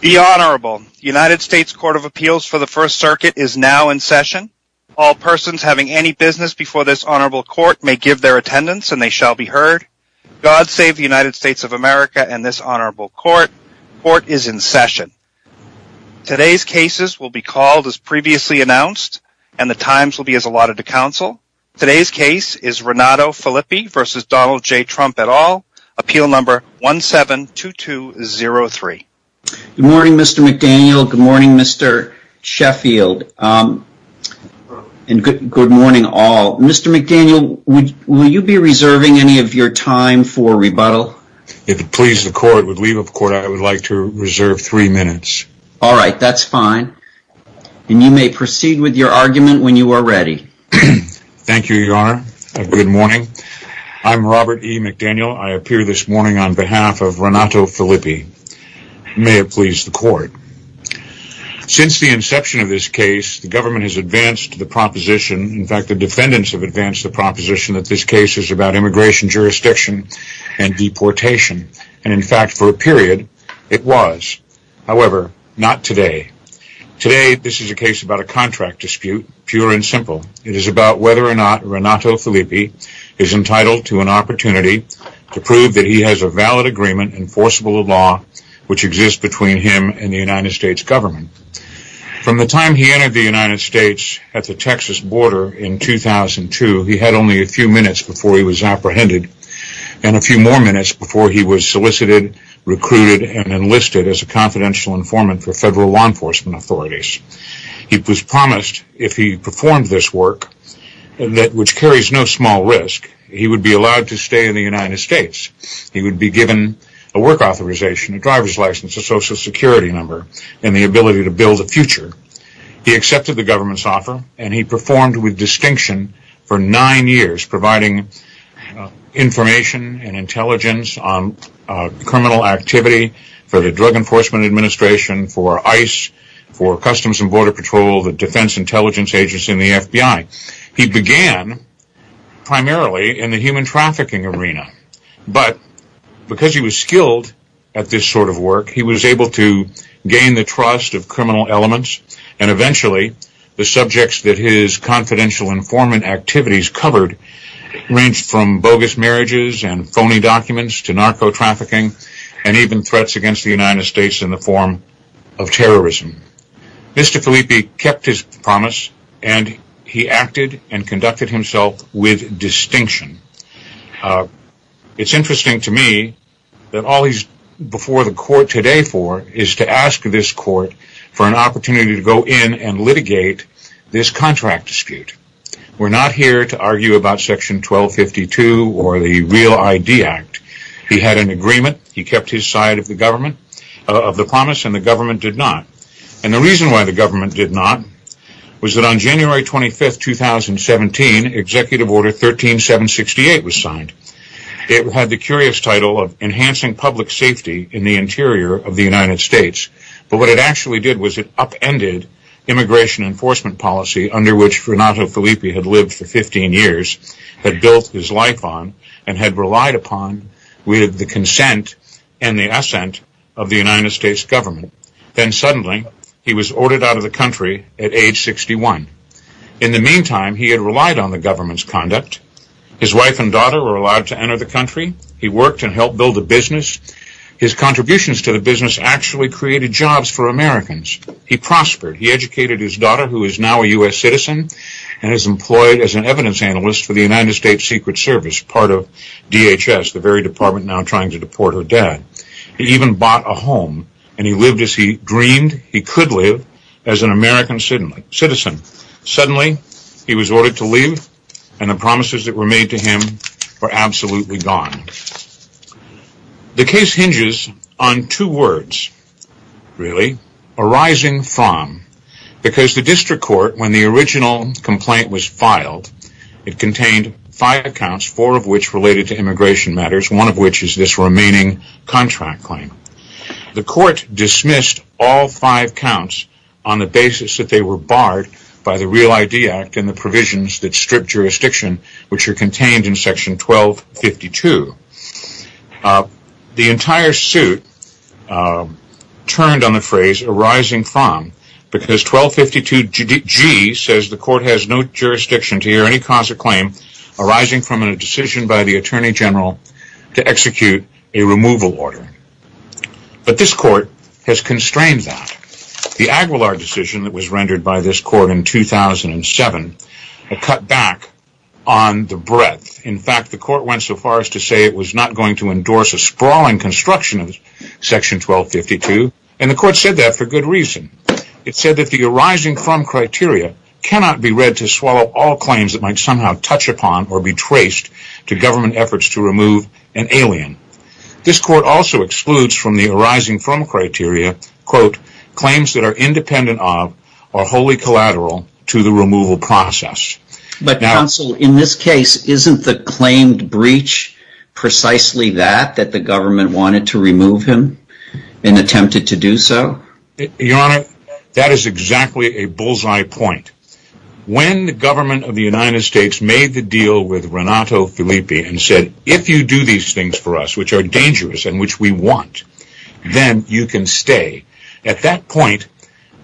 The Honorable United States Court of Appeals for the First Circuit is now in session. All persons having any business before this Honorable Court may give their attendance and they shall be heard. God save the United States of America and this Honorable Court. Court is in session. Today's cases will be called as previously announced and the times will be as allotted to Good morning, Mr. McDaniel. Good morning, Mr. Sheffield. And good morning, all. Mr. McDaniel, will you be reserving any of your time for rebuttal? If it pleases the Court, I would like to reserve three minutes. All right, that's fine. And you may proceed with your argument when you are ready. Thank you, Your Honor. Good morning. I'm Robert E. McDaniel. I appear this morning on May it please the Court. Since the inception of this case, the government has advanced the proposition. In fact, the defendants have advanced the proposition that this case is about immigration jurisdiction and deportation. And in fact, for a period, it was. However, not today. Today, this is a case about a contract dispute, pure and simple. It is about whether or not Renato Filippi is entitled to an opportunity to prove that he has a valid agreement enforceable law, which exists between him and the United States government. From the time he entered the United States at the Texas border in 2002, he had only a few minutes before he was apprehended and a few more minutes before he was solicited, recruited, and enlisted as a confidential informant for federal law enforcement authorities. It was promised if he performed this work, which carries no small risk, he would be allowed to stay in the United States. He would be given a work authorization, a driver's license, a social security number, and the ability to build a future. He accepted the government's offer and he performed with distinction for nine years, providing information and intelligence on criminal activity for the Drug Enforcement Administration, for ICE, for Customs and Border Patrol, the Defense Intelligence Agency, and the at this sort of work. He was able to gain the trust of criminal elements and eventually the subjects that his confidential informant activities covered ranged from bogus marriages and phony documents to narco-trafficking and even threats against the United States in the form of terrorism. Mr. Filippi kept his promise and he acted and conducted himself with distinction. It's interesting to me that all he's before the court today for is to ask this court for an opportunity to go in and litigate this contract dispute. We're not here to argue about Section 1252 or the Real ID Act. He had an agreement. He kept his side of the promise and the government did not. And the reason why the government did not was that on January 25, 2017, Executive Order 13768 was signed. It had the curious title of enhancing public safety in the interior of the United States, but what it actually did was it upended immigration enforcement policy under which Renato Filippi had lived for 15 years, had built his life on, and had relied upon with the consent and the assent of the United States government. Then suddenly he was ordered out of the country at age 61. In the meantime, he had relied on the government's conduct. His wife and daughter were allowed to enter the country. He worked and helped build a business. His contributions to the business actually created jobs for Americans. He prospered. He educated his daughter who is now a U.S. citizen and is employed as an evidence analyst for the United States Secret Service, part of DHS, the very department now trying to deport her dad. He even bought a home and he lived as he dreamed he could live as an American citizen. Suddenly, he was ordered to leave and the promises that were made to him were absolutely gone. The case hinges on two words, really, arising from, because the district court, when the original complaint was filed, it contained five accounts, four of which related to immigration matters, one of which is this dismissed all five counts on the basis that they were barred by the Real ID Act and the provisions that strip jurisdiction, which are contained in section 1252. The entire suit turned on the phrase arising from, because 1252G says the court has no jurisdiction to hear any cause or claim arising from a decision by the Attorney General to execute a removal order. But this court has constrained that. The Aguilar decision that was rendered by this court in 2007 had cut back on the breadth. In fact, the court went so far as to say it was not going to endorse a sprawling construction of section 1252 and the court said that for good reason. It said that the arising from criteria cannot be read to swallow all claims that might touch upon or be traced to government efforts to remove an alien. This court also excludes from the arising from criteria, quote, claims that are independent of or wholly collateral to the removal process. But counsel, in this case, isn't the claimed breach precisely that, that the government wanted to remove him and attempted to do so? Your Honor, that is exactly a bullseye point. When the government of the United States made the deal with Renato Filippi and said, if you do these things for us, which are dangerous and which we want, then you can stay. At that point,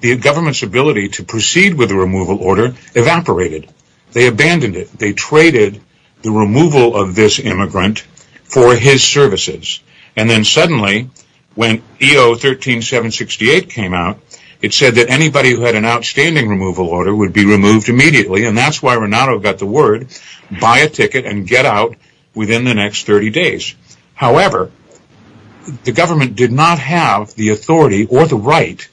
the government's ability to proceed with the removal order evaporated. They abandoned it. They traded the removal of this immigrant for his services. And then suddenly, when EO 13768 came out, it said that anybody who had an outstanding removal order would be removed immediately and that's why Renato got the word, buy a ticket and get out within the next 30 days. However, the government did not have the authority or the right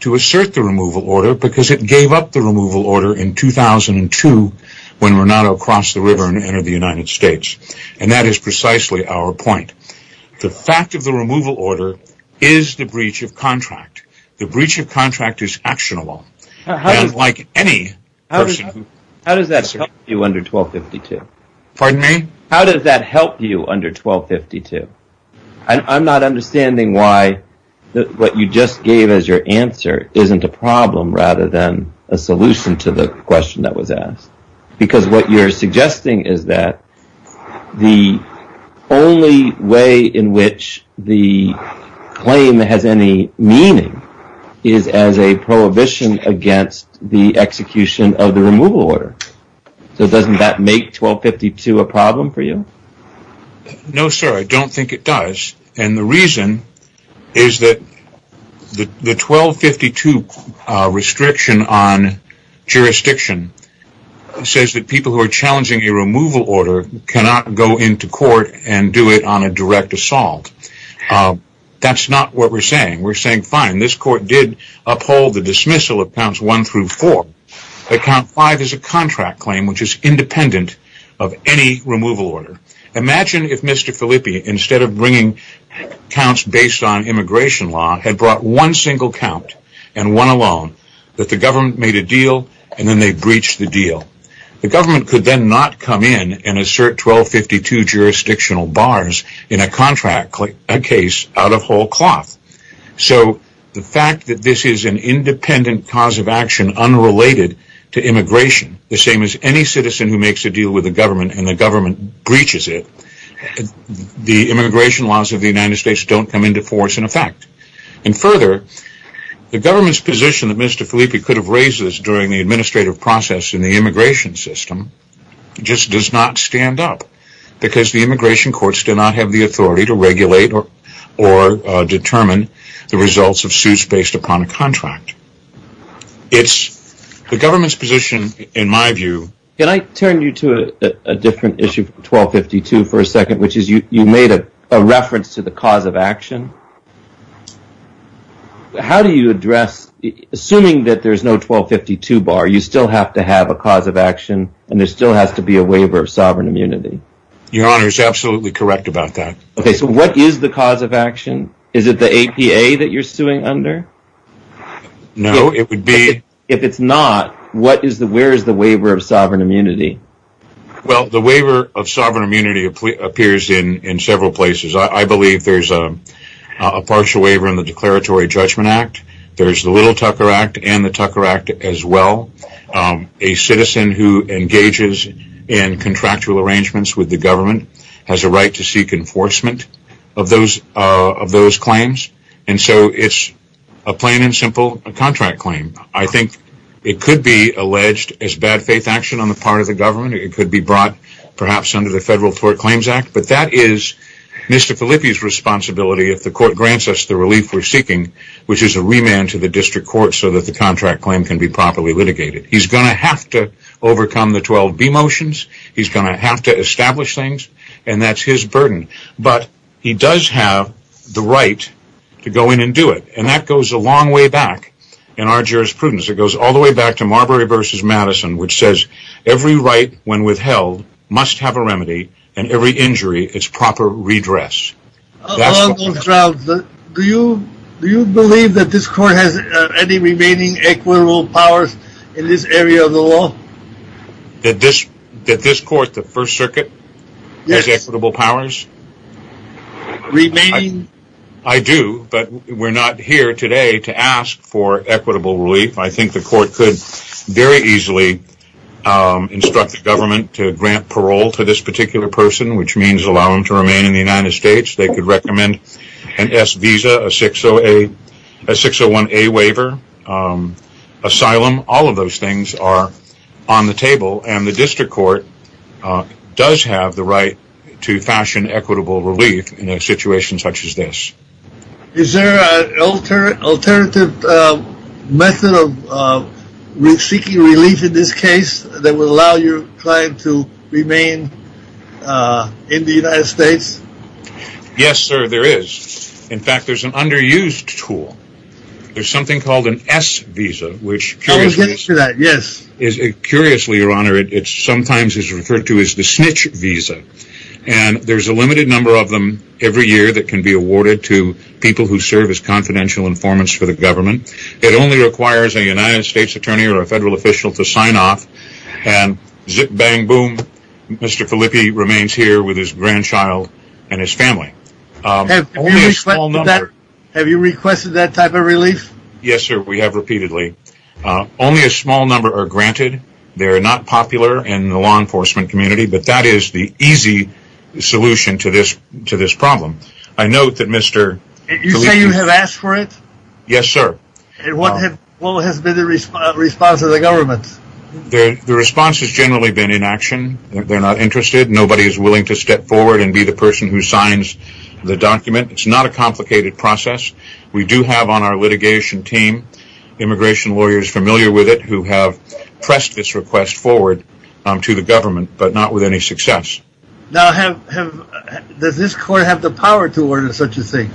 to assert the removal order because it gave up the removal order in 2002 when Renato crossed the river and entered the United States. And that is precisely our point. The fact of the removal order is the breach of contract. The breach of contract is actionable. And like any person... How does that help you under 1252? Pardon me? How does that help you under 1252? I'm not understanding why what you just gave as your answer isn't a problem rather than a solution to the question that was asked. Because what you're saying is that the only way in which the claim has any meaning is as a prohibition against the execution of the removal order. So doesn't that make 1252 a problem for you? No, sir, I don't think it does. And the reason is that the 1252 restriction on jurisdiction says that people who are challenging a removal order cannot go into court and do it on a direct assault. That's not what we're saying. We're saying, fine, this court did uphold the dismissal of counts one through four. But count five is a contract claim which is independent of any removal order. Imagine if Mr. Filippi, instead of bringing counts based on immigration law, had brought one single count and one alone, that the government made a deal and then they breached the deal. The government could then not come in and assert 1252 jurisdictional bars in a contract case out of whole cloth. So the fact that this is an independent cause of action unrelated to immigration, the same as any citizen who makes a deal with the government and the government breaches it, the immigration laws of the United States don't come into force in effect. And further, the government's position that Mr. Filippi could have raised this during the administrative process in the immigration system just does not stand up because the immigration courts do not have the authority to regulate or determine the results of suits based upon a contract. It's the government's position, in my view. Can I turn you to a different issue, 1252, for a second, which is you made a reference to the cause of action. How do you address, assuming that there's no 1252 bar, you still have to have a cause of action and there still has to be a waiver of sovereign immunity? Your Honor is absolutely correct about that. Okay, so what is the cause of action? Is it the APA that you're suing under? No, it would be. If it's not, where is the waiver of sovereign immunity? Well, the waiver of sovereign immunity appears in several places. I believe there's a partial waiver in the Declaratory Judgment Act. There's the Little Tucker Act and the Tucker Act as well. A citizen who engages in contractual arrangements with the government has a right to seek enforcement of those claims. And so it's a plain and simple contract claim. I think it could be alleged as bad faith action on the part of the government. It could be brought perhaps under the Federal Tort Claims Act, but that is Mr. Filippi's responsibility if the court grants us the relief we're seeking, which is a remand to the district court so that the contract claim can be properly litigated. He's going to have to overcome the 12b motions. He's going to have to establish things and that's his burden. But he does have the right to go in and do it. And that goes a long way back in our jurisprudence. It goes all the way back to Marbury v. Madison, which says every right when withheld must have a remedy and every injury its proper redress. Do you believe that this court has any remaining equitable powers in this area of the law? That this court, the First Circuit, has equitable powers? Remaining? I do, but we're not here today to ask for equitable relief. I think the court could very easily instruct the government to grant parole to this particular person, which means allow them to remain in the United States. They could recommend an S visa, a 601A waiver, asylum. All of those things are on the table and the district court does have the right to fashion equitable relief in a situation such as this. Is there an alternative method of seeking relief in this case that will allow your remain in the United States? Yes, sir, there is. In fact, there's an underused tool. There's something called an S visa, which is curiously, your honor, it's sometimes referred to as the snitch visa. And there's a limited number of them every year that can be awarded to people who serve as confidential informants for the government. It only requires a United Mr. Filippi remains here with his grandchild and his family. Have you requested that type of relief? Yes, sir, we have repeatedly. Only a small number are granted. They're not popular in the law enforcement community, but that is the easy solution to this problem. I note that Mr. Filippi... You say you have asked for it? Yes, sir. And what has been the response of the government? The response has generally been inaction. They're not interested. Nobody is willing to step forward and be the person who signs the document. It's not a complicated process. We do have on our litigation team, immigration lawyers familiar with it who have pressed this request forward to the government, but not with any success. Now, does this court have the power to order such a thing?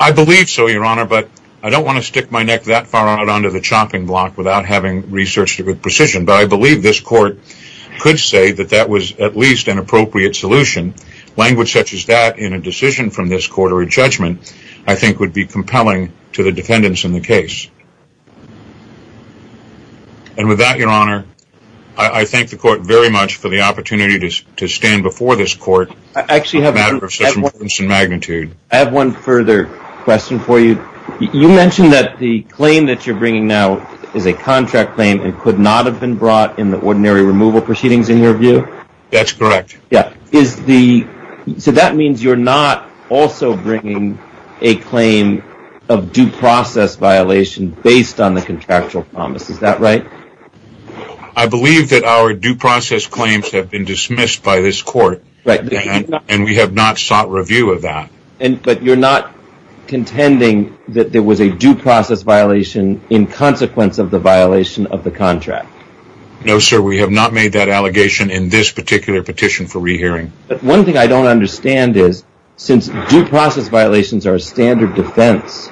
I believe so, your honor, but I don't want to stick my neck that far out onto the chopping block without having researched it with precision, but I believe this court could say that that was at least an appropriate solution. Language such as that in a decision from this court or a judgment, I think would be compelling to the defendants in the case. And with that, your honor, I thank the court very much for the opportunity to stand before this court. I actually have a matter of such importance and magnitude. I have one further question for you. You mentioned that the claim that you're bringing now is a contract claim and could not have been brought in the ordinary removal proceedings, in your view? That's correct. Yeah. So that means you're not also bringing a claim of due process violation based on the contractual promise. Is that right? I believe that our due process claims have been dismissed by this court, and we have not sought review of that. But you're not contending that there was a due process violation in consequence of the violation of the contract? No, sir. We have not made that allegation in this particular petition for re-hearing. But one thing I don't understand is, since due process violations are a standard defense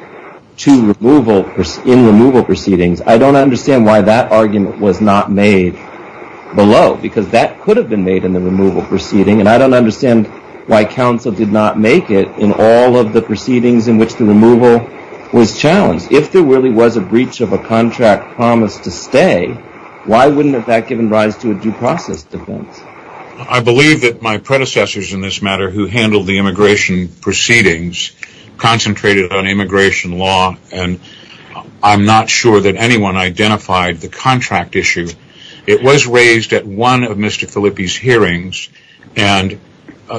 to removal in removal proceedings, I don't understand why that argument was not made below, because that could have been made in the removal proceeding, and I don't understand why counsel did not make it in all of the proceedings in which the removal was challenged. If there really was a breach of a contract promise to stay, why wouldn't that have given rise to a due process defense? I believe that my predecessors in this matter who handled the immigration proceedings concentrated on immigration law, and I'm not sure that anyone identified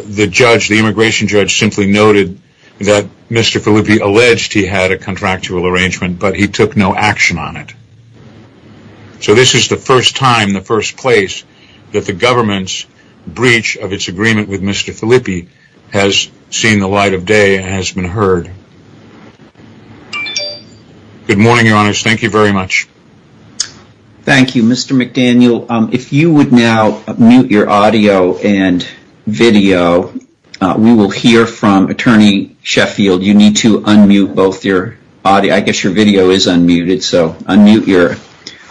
the judge. The immigration judge simply noted that Mr. Filippi alleged he had a contractual arrangement, but he took no action on it. So this is the first time, the first place that the government's breach of its agreement with Mr. Filippi has seen the light of day and has been heard. Good morning, your honors. Thank you very much. Thank you, Mr. McDaniel. If you would now mute your audio and video, we will hear from Attorney Sheffield. You need to unmute both your audio. I guess your video is unmuted, so unmute your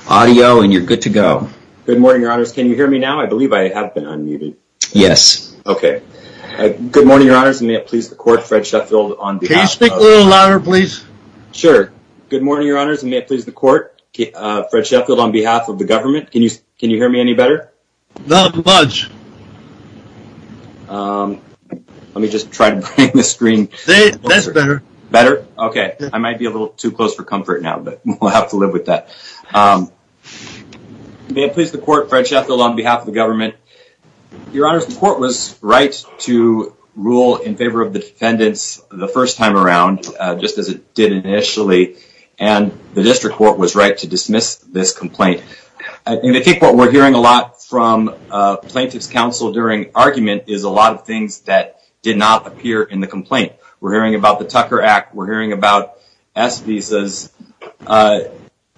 audio and you're good to go. Good morning, your honors. Can you hear me now? I believe I have been unmuted. Yes. Okay. Good morning, your honors, and may it please the court, Fred Sheffield. Can you speak a little louder, please? Sure. Good morning, your honors, and may it please the court, Fred Sheffield, on behalf of the government. Can you hear me any better? Not much. Let me just try to bring the screen closer. That's better. Better? Okay. I might be a little too close for comfort now, but we'll have to live with that. May it please the court, Fred Sheffield, on behalf of the government. Your honors, the court was right to rule in favor of the defendants the first time around, just as it did initially, and the district court was right to dismiss this complaint. I think what we're hearing a lot from plaintiff's counsel during argument is a lot of things that did not appear in the complaint. We're hearing about the Tucker Act. We're hearing about S visas.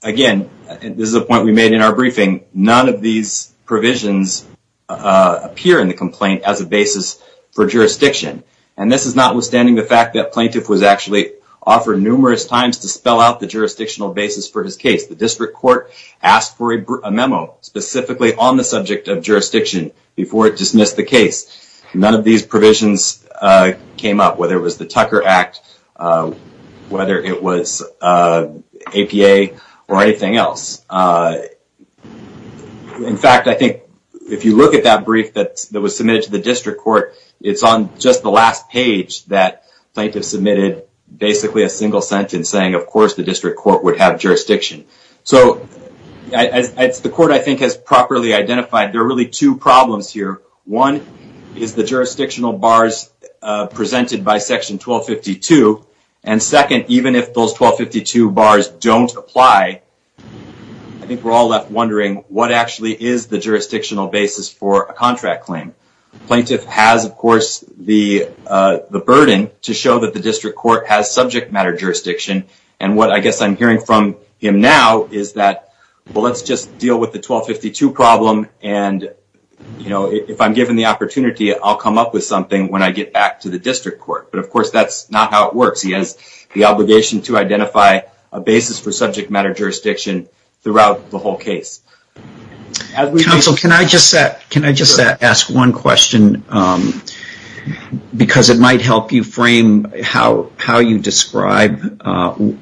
Again, this is a point we made in our briefing. None of these provisions appear in the complaint as a basis for jurisdiction, and this is notwithstanding the fact that plaintiff was actually offered numerous times to spell out the jurisdictional basis for his case. The district court asked for a memo specifically on the subject of jurisdiction before it dismissed the case. None of these provisions came up, whether it was the Tucker Act, whether it was APA, or anything else. In fact, I think if you look at that brief that was submitted to the district court, it's on just the last page that plaintiff submitted basically a single sentence saying, of course, the district court would have jurisdiction. So the court, I think, has properly identified there are really two problems here. One is the jurisdictional bars presented by section 1252, and second, even if those 1252 bars don't apply, I think we're all left wondering what actually is the jurisdictional basis for a contract claim. Plaintiff has, of course, the burden to show that the district court has subject matter jurisdiction, and what I guess I'm hearing from him now is that, well, let's just deal with the 1252 problem, and if I'm given the opportunity, I'll come up with something when I get back to the district court. But, of course, that's not how it works. He has the obligation to identify a basis for subject matter jurisdiction throughout the whole case. Counsel, can I just ask one question? Because it might help you frame how you describe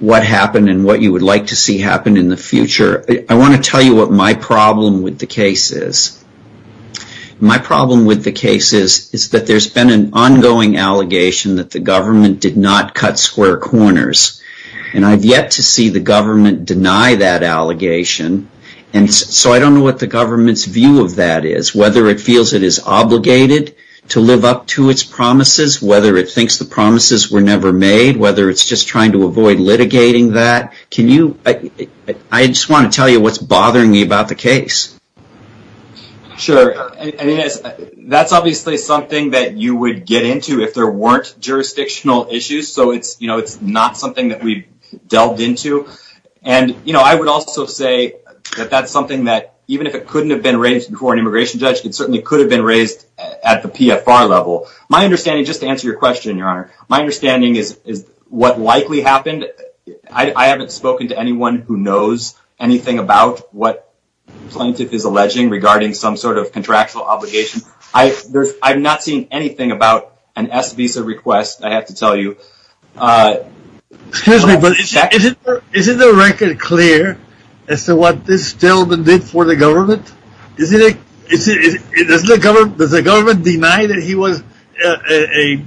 what happened and what you would like to see happen in the future. I want to tell you what my problem with the case is. My problem with the case is that there's been an ongoing allegation that the government did not cut square corners, and I've yet to see the government deny that allegation, and so I don't know what the government's view of that is, whether it feels it is obligated to live up to its promises, whether it thinks the promises were never made, whether it's just trying to avoid litigating that. I just want to tell you what's bothering me about the case. Sure. I mean, that's obviously something that you would get into if there weren't jurisdictional issues, so it's not something that we've delved into, and I would also say that that's something that, even if it couldn't have been raised before an immigration judge, it certainly could have been raised at the PFR level. My understanding, just to answer your question, your honor, my understanding is what likely happened. I haven't spoken to anyone who knows anything about what Plaintiff is alleging regarding some sort of contractual obligation. I've not seen anything about an S visa request, I have to tell you. Excuse me, but isn't the record clear as to what this gentleman did for the government? Does the government deny that he was a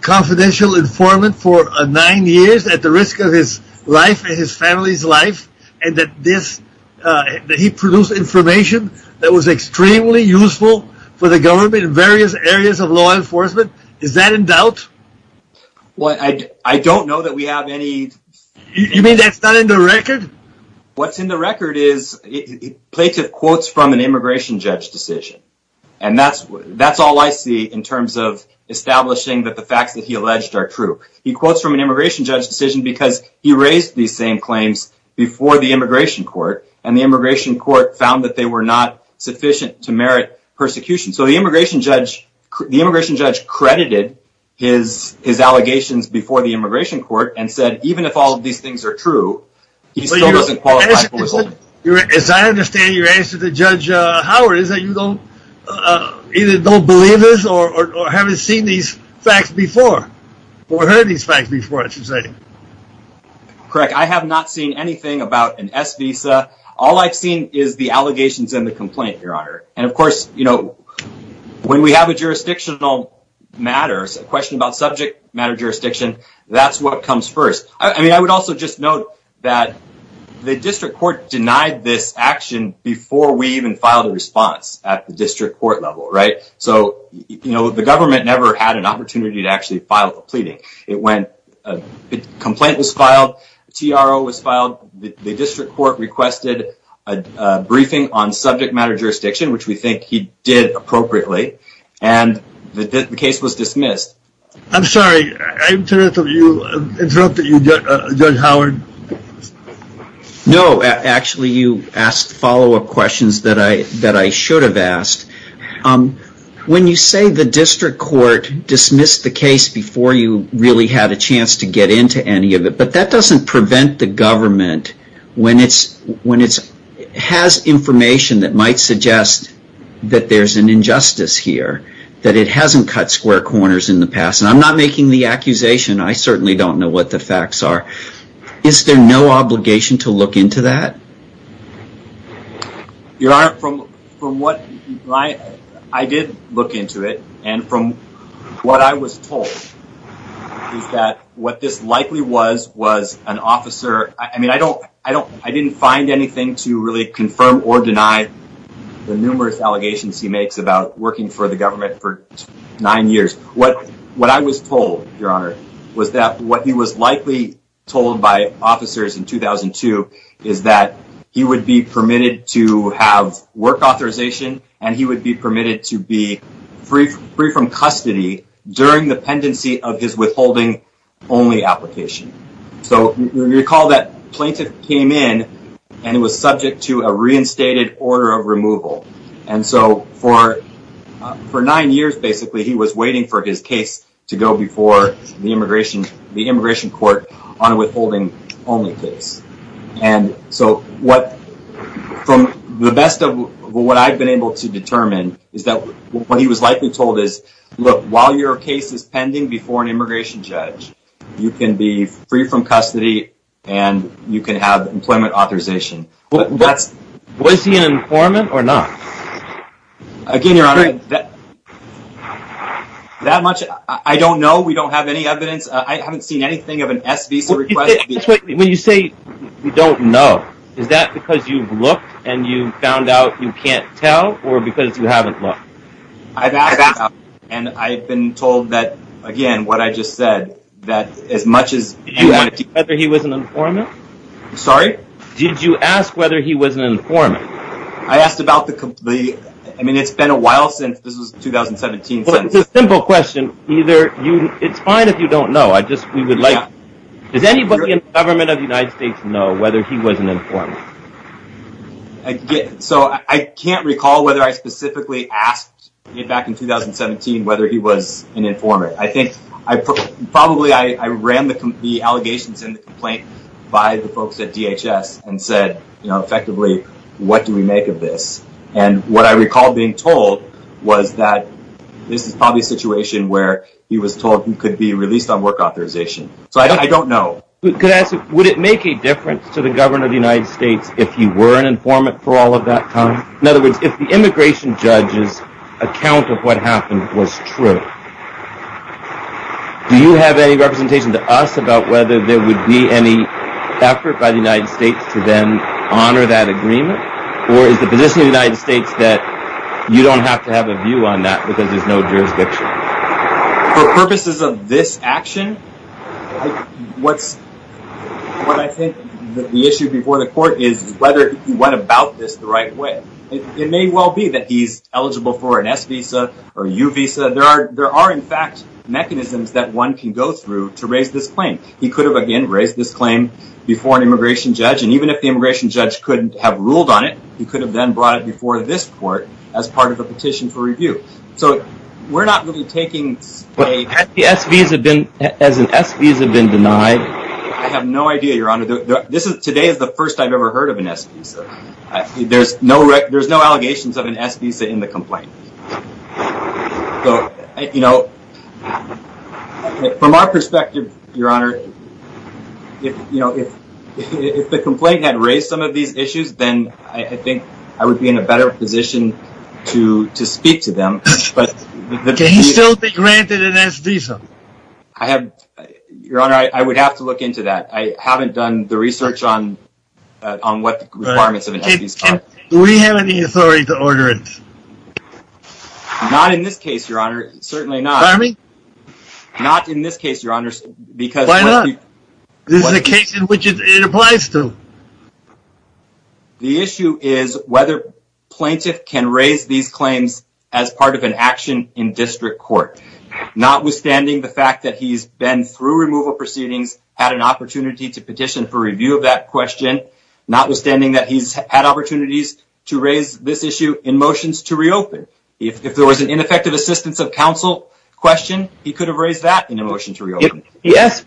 confidential informant for nine years at the risk of his life and his family's life, and that he produced information that was extremely useful for the government in various areas of law enforcement? Is that in doubt? Well, I don't know that we have any... You mean that's not in the record? What's in the record is Plaintiff quotes from an immigration judge decision, and that's all I see in terms of establishing that the facts that he alleged are true. He quotes from an immigration judge decision because he raised these same claims before the immigration court, and the immigration court found that they were not sufficient to merit persecution. So the immigration judge credited his allegations before the immigration court and said, even if all of these things are true, he still doesn't qualify for withholding. As I understand your answer to Judge Howard is that you either don't believe this or haven't seen these facts before, or heard these facts before, I should say. Correct. I have not seen anything about an S visa. All I've seen is the allegations and the complaint, Your Honor. And of course, when we have a jurisdictional matter, a question about subject matter jurisdiction, that's what comes first. I mean, I would also just note that the district court denied this action before we even filed a response at the district court level, right? So the government never had an opportunity to actually file a pleading. A complaint was filed, a TRO was filed, the district court requested a briefing on subject matter jurisdiction, which we think he did appropriately, and the case was dismissed. I'm sorry, did I interrupt you, Judge Howard? No, actually, you asked follow up questions that I should have asked. When you say the district court dismissed the case before you really had a chance to get into any of it, but that doesn't prevent the government when it has information that might suggest that there's an injustice here, that it hasn't cut square corners in the past, and I'm not making the accusation. I certainly don't know what the facts are. Is there no obligation to look into that? Your Honor, from what I did look into it, and from what I was told, is that what this likely was, was an officer. I mean, I didn't find anything to really confirm or deny the numerous allegations he makes about working for the government for nine years. What I was told, Your Honor, was that what he was likely told by officers in 2002, is that he would be permitted to have work authorization, and he would be permitted to be free from custody during the pendency of his withholding only application. So, recall that plaintiff came in, and it was subject to a reinstated order of removal. And so, for nine years, basically, he was waiting for his case to go before the immigration court on a withholding only case. And so, from the best of what I've been able to determine, is that what he was likely told is, look, while your case is pending before an immigration judge, you can be free from custody, and you can have employment authorization. Was he an informant or not? Again, Your Honor, that much I don't know. We don't have any evidence. I haven't seen anything of an S visa request. When you say you don't know, is that because you've looked, and you found out you can't tell, or because you haven't looked? I've asked, and I've been told that, again, what I just said, that as much as... Did you ask whether he was an informant? Sorry? Did you ask whether he was an informant? I asked about the... I mean, it's been a while since this was 2017. Well, it's a simple question. It's fine if you don't know. We would like... Does anybody in the government of the United States know whether he was an informant? I can't recall whether I specifically asked back in 2017 whether he was an informant. I think probably I ran the allegations in the complaint by the folks at DHS and said, effectively, what do we make of this? And what I recall being told was that this is probably a situation where he was told he could be released on work authorization. So I don't know. Would it make a difference to the government of the United States if he were an informant for all of that time? In other words, if the immigration judge's account of what happened was true, do you have any representation to us about whether there would be any effort by the United States to then honor that agreement? Or is the position of the United States that you don't have to have a view on that because there's no jurisdiction? For purposes of this action, what I think the issue before the court is whether he went about this the right way. It may well be that he's eligible for an S visa or U visa. There are, in fact, mechanisms that one can go through to raise this claim. He could have, again, raised this claim before an immigration judge. And even if the immigration judge couldn't have ruled on it, he could have then brought it before this court as part of a petition for review. So we're not really taking a- Has an S visa been denied? I have no idea, your honor. Today is the first I've ever heard of an S visa. There's no allegations of an S visa in the complaint. From our perspective, your honor, if the complaint had raised some of these issues, then I think I would be in a better position to speak to them. Can he still be granted an S visa? Your honor, I would have to look into that. I haven't done the research on what the requirements of an S visa are. Do we have any authority to order it? Not in this case, your honor. Certainly not. Pardon me? Not in this case, your honor. Why not? This is a case in which it applies to. The issue is whether plaintiff can raise these claims as part of an action in district court. Notwithstanding the fact that he's been through removal proceedings, had an opportunity to petition for review of that question, notwithstanding that he's had opportunities to raise this issue in motions to reopen. If there was an ineffective assistance of counsel question, he could have raised that in a motion to reopen. If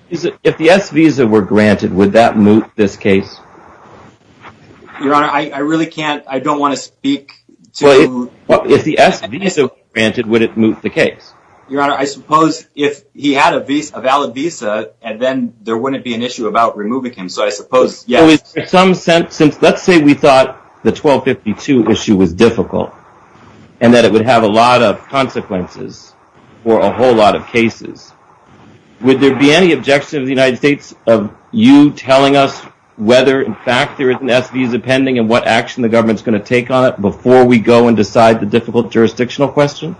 the S visa were granted, would that move this case? Your honor, I really can't. I don't want to speak to. Well, if the S visa were granted, would it move the case? Your honor, I suppose if he had a valid visa, and then there wouldn't be an issue about removing him. So I suppose, yes. So in some sense, since let's say we thought the 1252 issue was difficult, and that it would have a lot of consequences for a whole lot of cases, would there be any objection of the United States of you telling us whether or not in fact there is an S visa pending and what action the government's going to take on it before we go and decide the difficult jurisdictional question?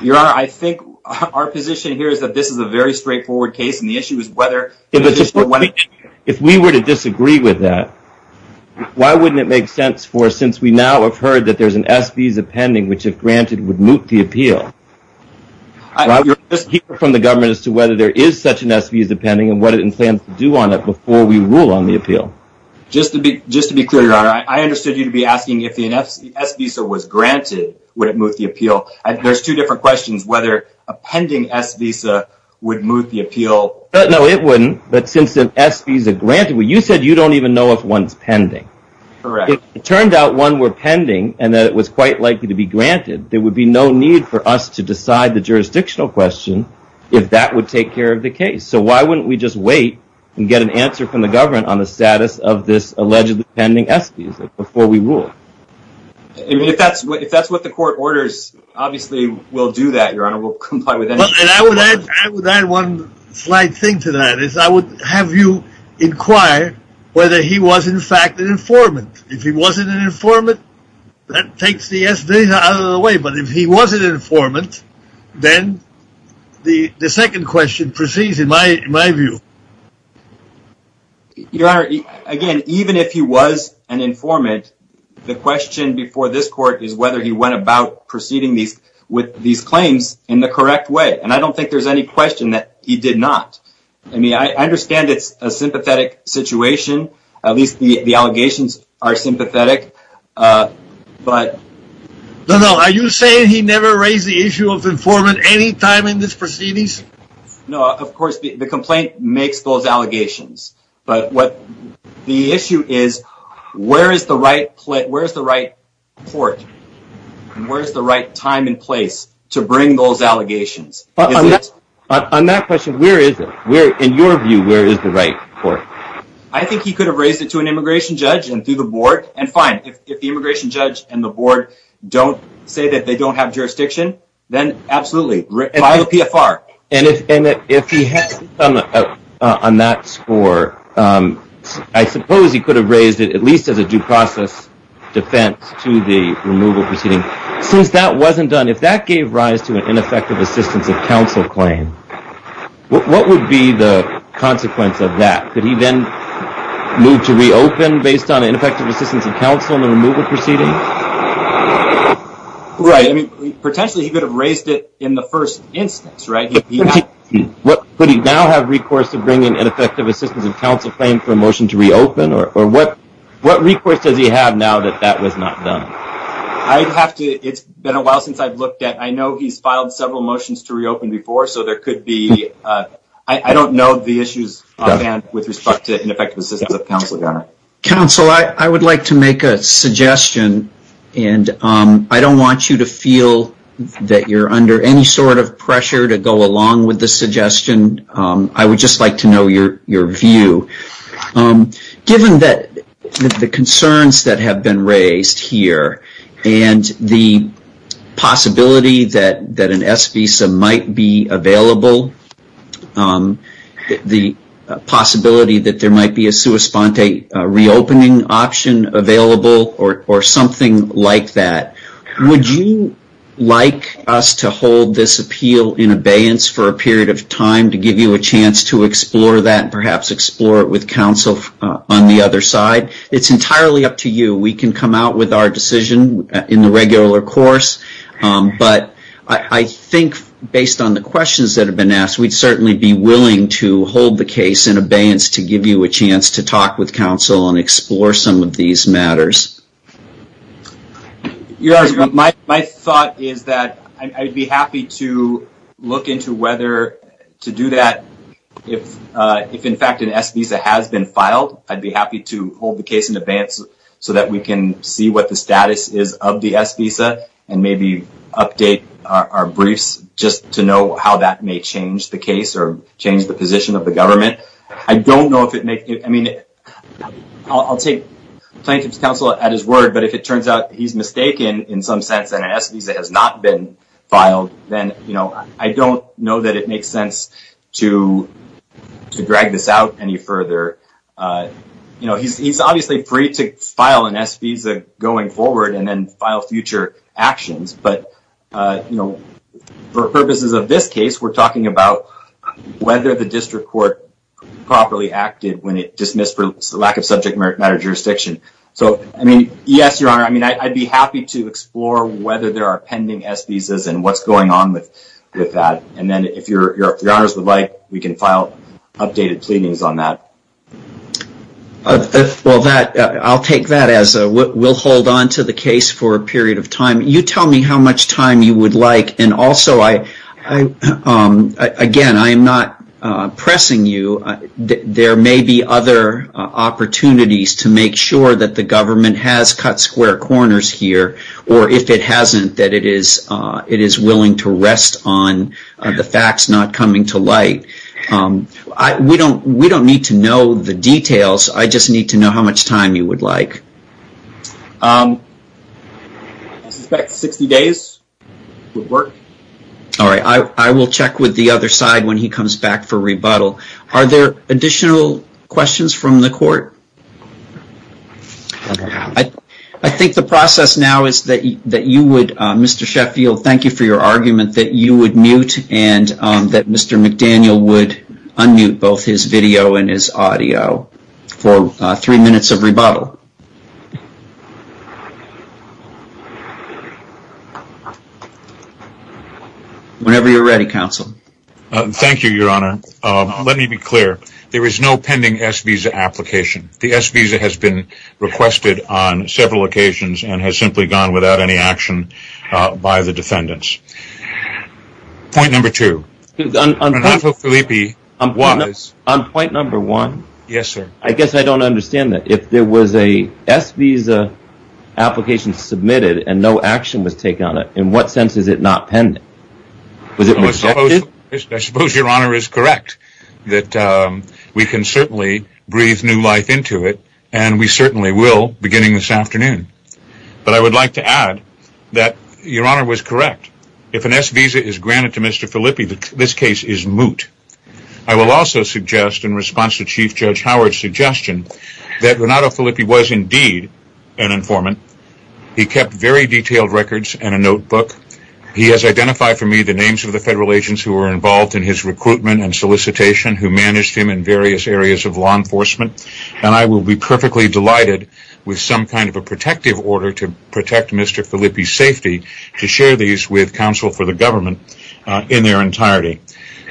Your honor, I think our position here is that this is a very straightforward case, and the issue is whether. If we were to disagree with that, why wouldn't it make sense for, since we now have heard that there's an S visa pending, which if granted would moot the appeal. I hear from the government as to whether there is such an S visa pending and what it plans to do on it before we rule on the appeal. Just to be clear, your honor, I understood you to be asking if the S visa was granted, would it moot the appeal? There's two different questions, whether a pending S visa would moot the appeal. No, it wouldn't. But since an S visa granted, you said you don't even know if one's pending. Correct. It turned out one were pending and that it was quite likely to be granted. There would be no need for us to decide the jurisdictional question if that would take care of the case. So why wouldn't we just wait and get an answer from the government on the status of this allegedly pending S visa before we rule? If that's what the court orders, obviously, we'll do that, your honor. We'll comply with anything. And I would add one slight thing to that is I would have you inquire whether he was in fact an informant. If he wasn't an informant, that takes the S visa out of the way. But if he wasn't an informant, then the second question proceeds in my view. Your honor, again, even if he was an informant, the question before this court is whether he went about proceeding with these claims in the correct way. And I don't think there's any question that he did not. I mean, I understand it's a sympathetic situation. At least the allegations are sympathetic. But no, no, are you saying he never raised the issue of informant any time in this proceedings? No, of course, the complaint makes those allegations. But what the issue is, where is the right place? Where's the right court? Where's the right time and place to bring those allegations? But on that question, where is it? Where in your view, where is the right court? I think he could have raised it to an immigration judge and through the board. And fine, if the immigration judge and the board don't say that they don't have jurisdiction, then absolutely, by the PFR. And if he had on that score, I suppose he could have raised it, at least as a due process defense to the removal proceeding. Since that wasn't done, if that gave rise to an ineffective assistance of counsel claim, what would be the consequence of that? Could he then move to reopen based on ineffective assistance of counsel in the removal proceeding? Right, I mean, potentially he could have raised it in the first instance, right? Could he now have recourse to bring in ineffective assistance of counsel claim for a motion to reopen? Or what recourse does he have now that that was not done? I'd have to, it's been a while since I've looked at, I know he's filed several motions to reopen before. So there could be, I don't know the issues with respect to ineffective assistance of counsel. Counsel, I would like to make a suggestion. And I don't want you to feel that you're under any sort of pressure to go along with the suggestion. I would just like to know your view. Given that the concerns that have been raised here, and the possibility that an S visa might be available, the possibility that there might be a sua sponte reopening option available, or something like that. Would you like us to hold this appeal in abeyance for a period of time to give you a chance to explore that and perhaps explore it with counsel on the other side? It's entirely up to you. We can come out with our decision in the regular course. But I think based on the questions that have been asked, we'd certainly be willing to hold the case in abeyance to give you a chance to talk with counsel and explore some of these matters. My thought is that I'd be happy to look into whether to do that. If in fact an S visa has been filed, I'd be happy to hold the case in advance so that we can see what the status is of the S visa, and maybe update our briefs just to know how that may change the case or change the position of the government. I'll take plaintiff's counsel at his word, but if it turns out he's mistaken in some sense, and an S visa has not been filed, then I don't know that it makes sense to drag this out any further. He's obviously free to file an S visa going forward and then file future actions. But for purposes of this case, we're talking about whether the district court properly acted when it dismissed for lack of subject matter jurisdiction. So I mean, yes, Your Honor, I'd be happy to explore whether there are pending S visas and what's going on with that. And then if Your Honors would like, we can file updated pleadings on that. Well, I'll take that as we'll hold on to the case for a period of time. You tell me how much time you would like. And also, again, I am not pressing you. There may be other opportunities to make sure that the government has cut square corners here, or if it hasn't, that it is willing to rest on the facts not coming to light. We don't need to know the details. I just need to know how much time you would like. I suspect 60 days would work. All right. I will check with the other side when he comes back for rebuttal. Are there additional questions from the court? I think the process now is that you would, Mr. Sheffield, thank you for your argument that you would mute and that Mr. McDaniel would unmute both his video and his audio for three minutes of rebuttal. Whenever you're ready, counsel. Thank you, Your Honor. Let me be clear. There is no pending S visa application. The S visa has been requested on several occasions and has simply gone without any action by the defendants. Point number two, Fernando Filipe was... On point number one, I guess I don't understand that. If there was a S visa application submitted and no action was taken on it, in what sense is it not pending? Was it rejected? I suppose Your Honor is correct that we can certainly breathe new life into it and we certainly will beginning this afternoon. But I would like to add that Your Honor was correct. If an S visa is granted to Mr. Filipe, this case is moot. I will also suggest in response to Chief Judge Howard's suggestion that Renato Filipe was indeed an informant. He kept very detailed records and a notebook. He has identified for me the names of the federal agents who were involved in his recruitment and solicitation, who managed him in various areas of law enforcement. And I will be perfectly delighted with some kind of a protective order to protect Mr. Filipe's safety, to share these with counsel for the government in their entirety.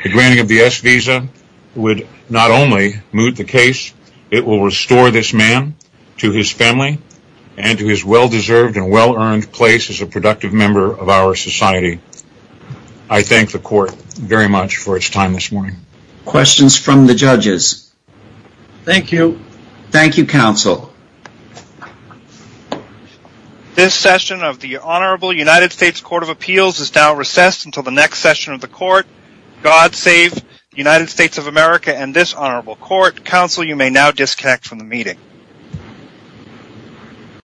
The granting of the S visa would not only moot the case, it will restore this man to his family and to his well-deserved and well-earned place as a productive member of our society. I thank the court very much for its time this morning. Questions from the judges. Thank you. Thank you, counsel. This session of the Honorable United States Court of Appeals is now recessed until the next session of the court. God save the United States of America and this honorable court. Counsel, you may now disconnect from the meeting.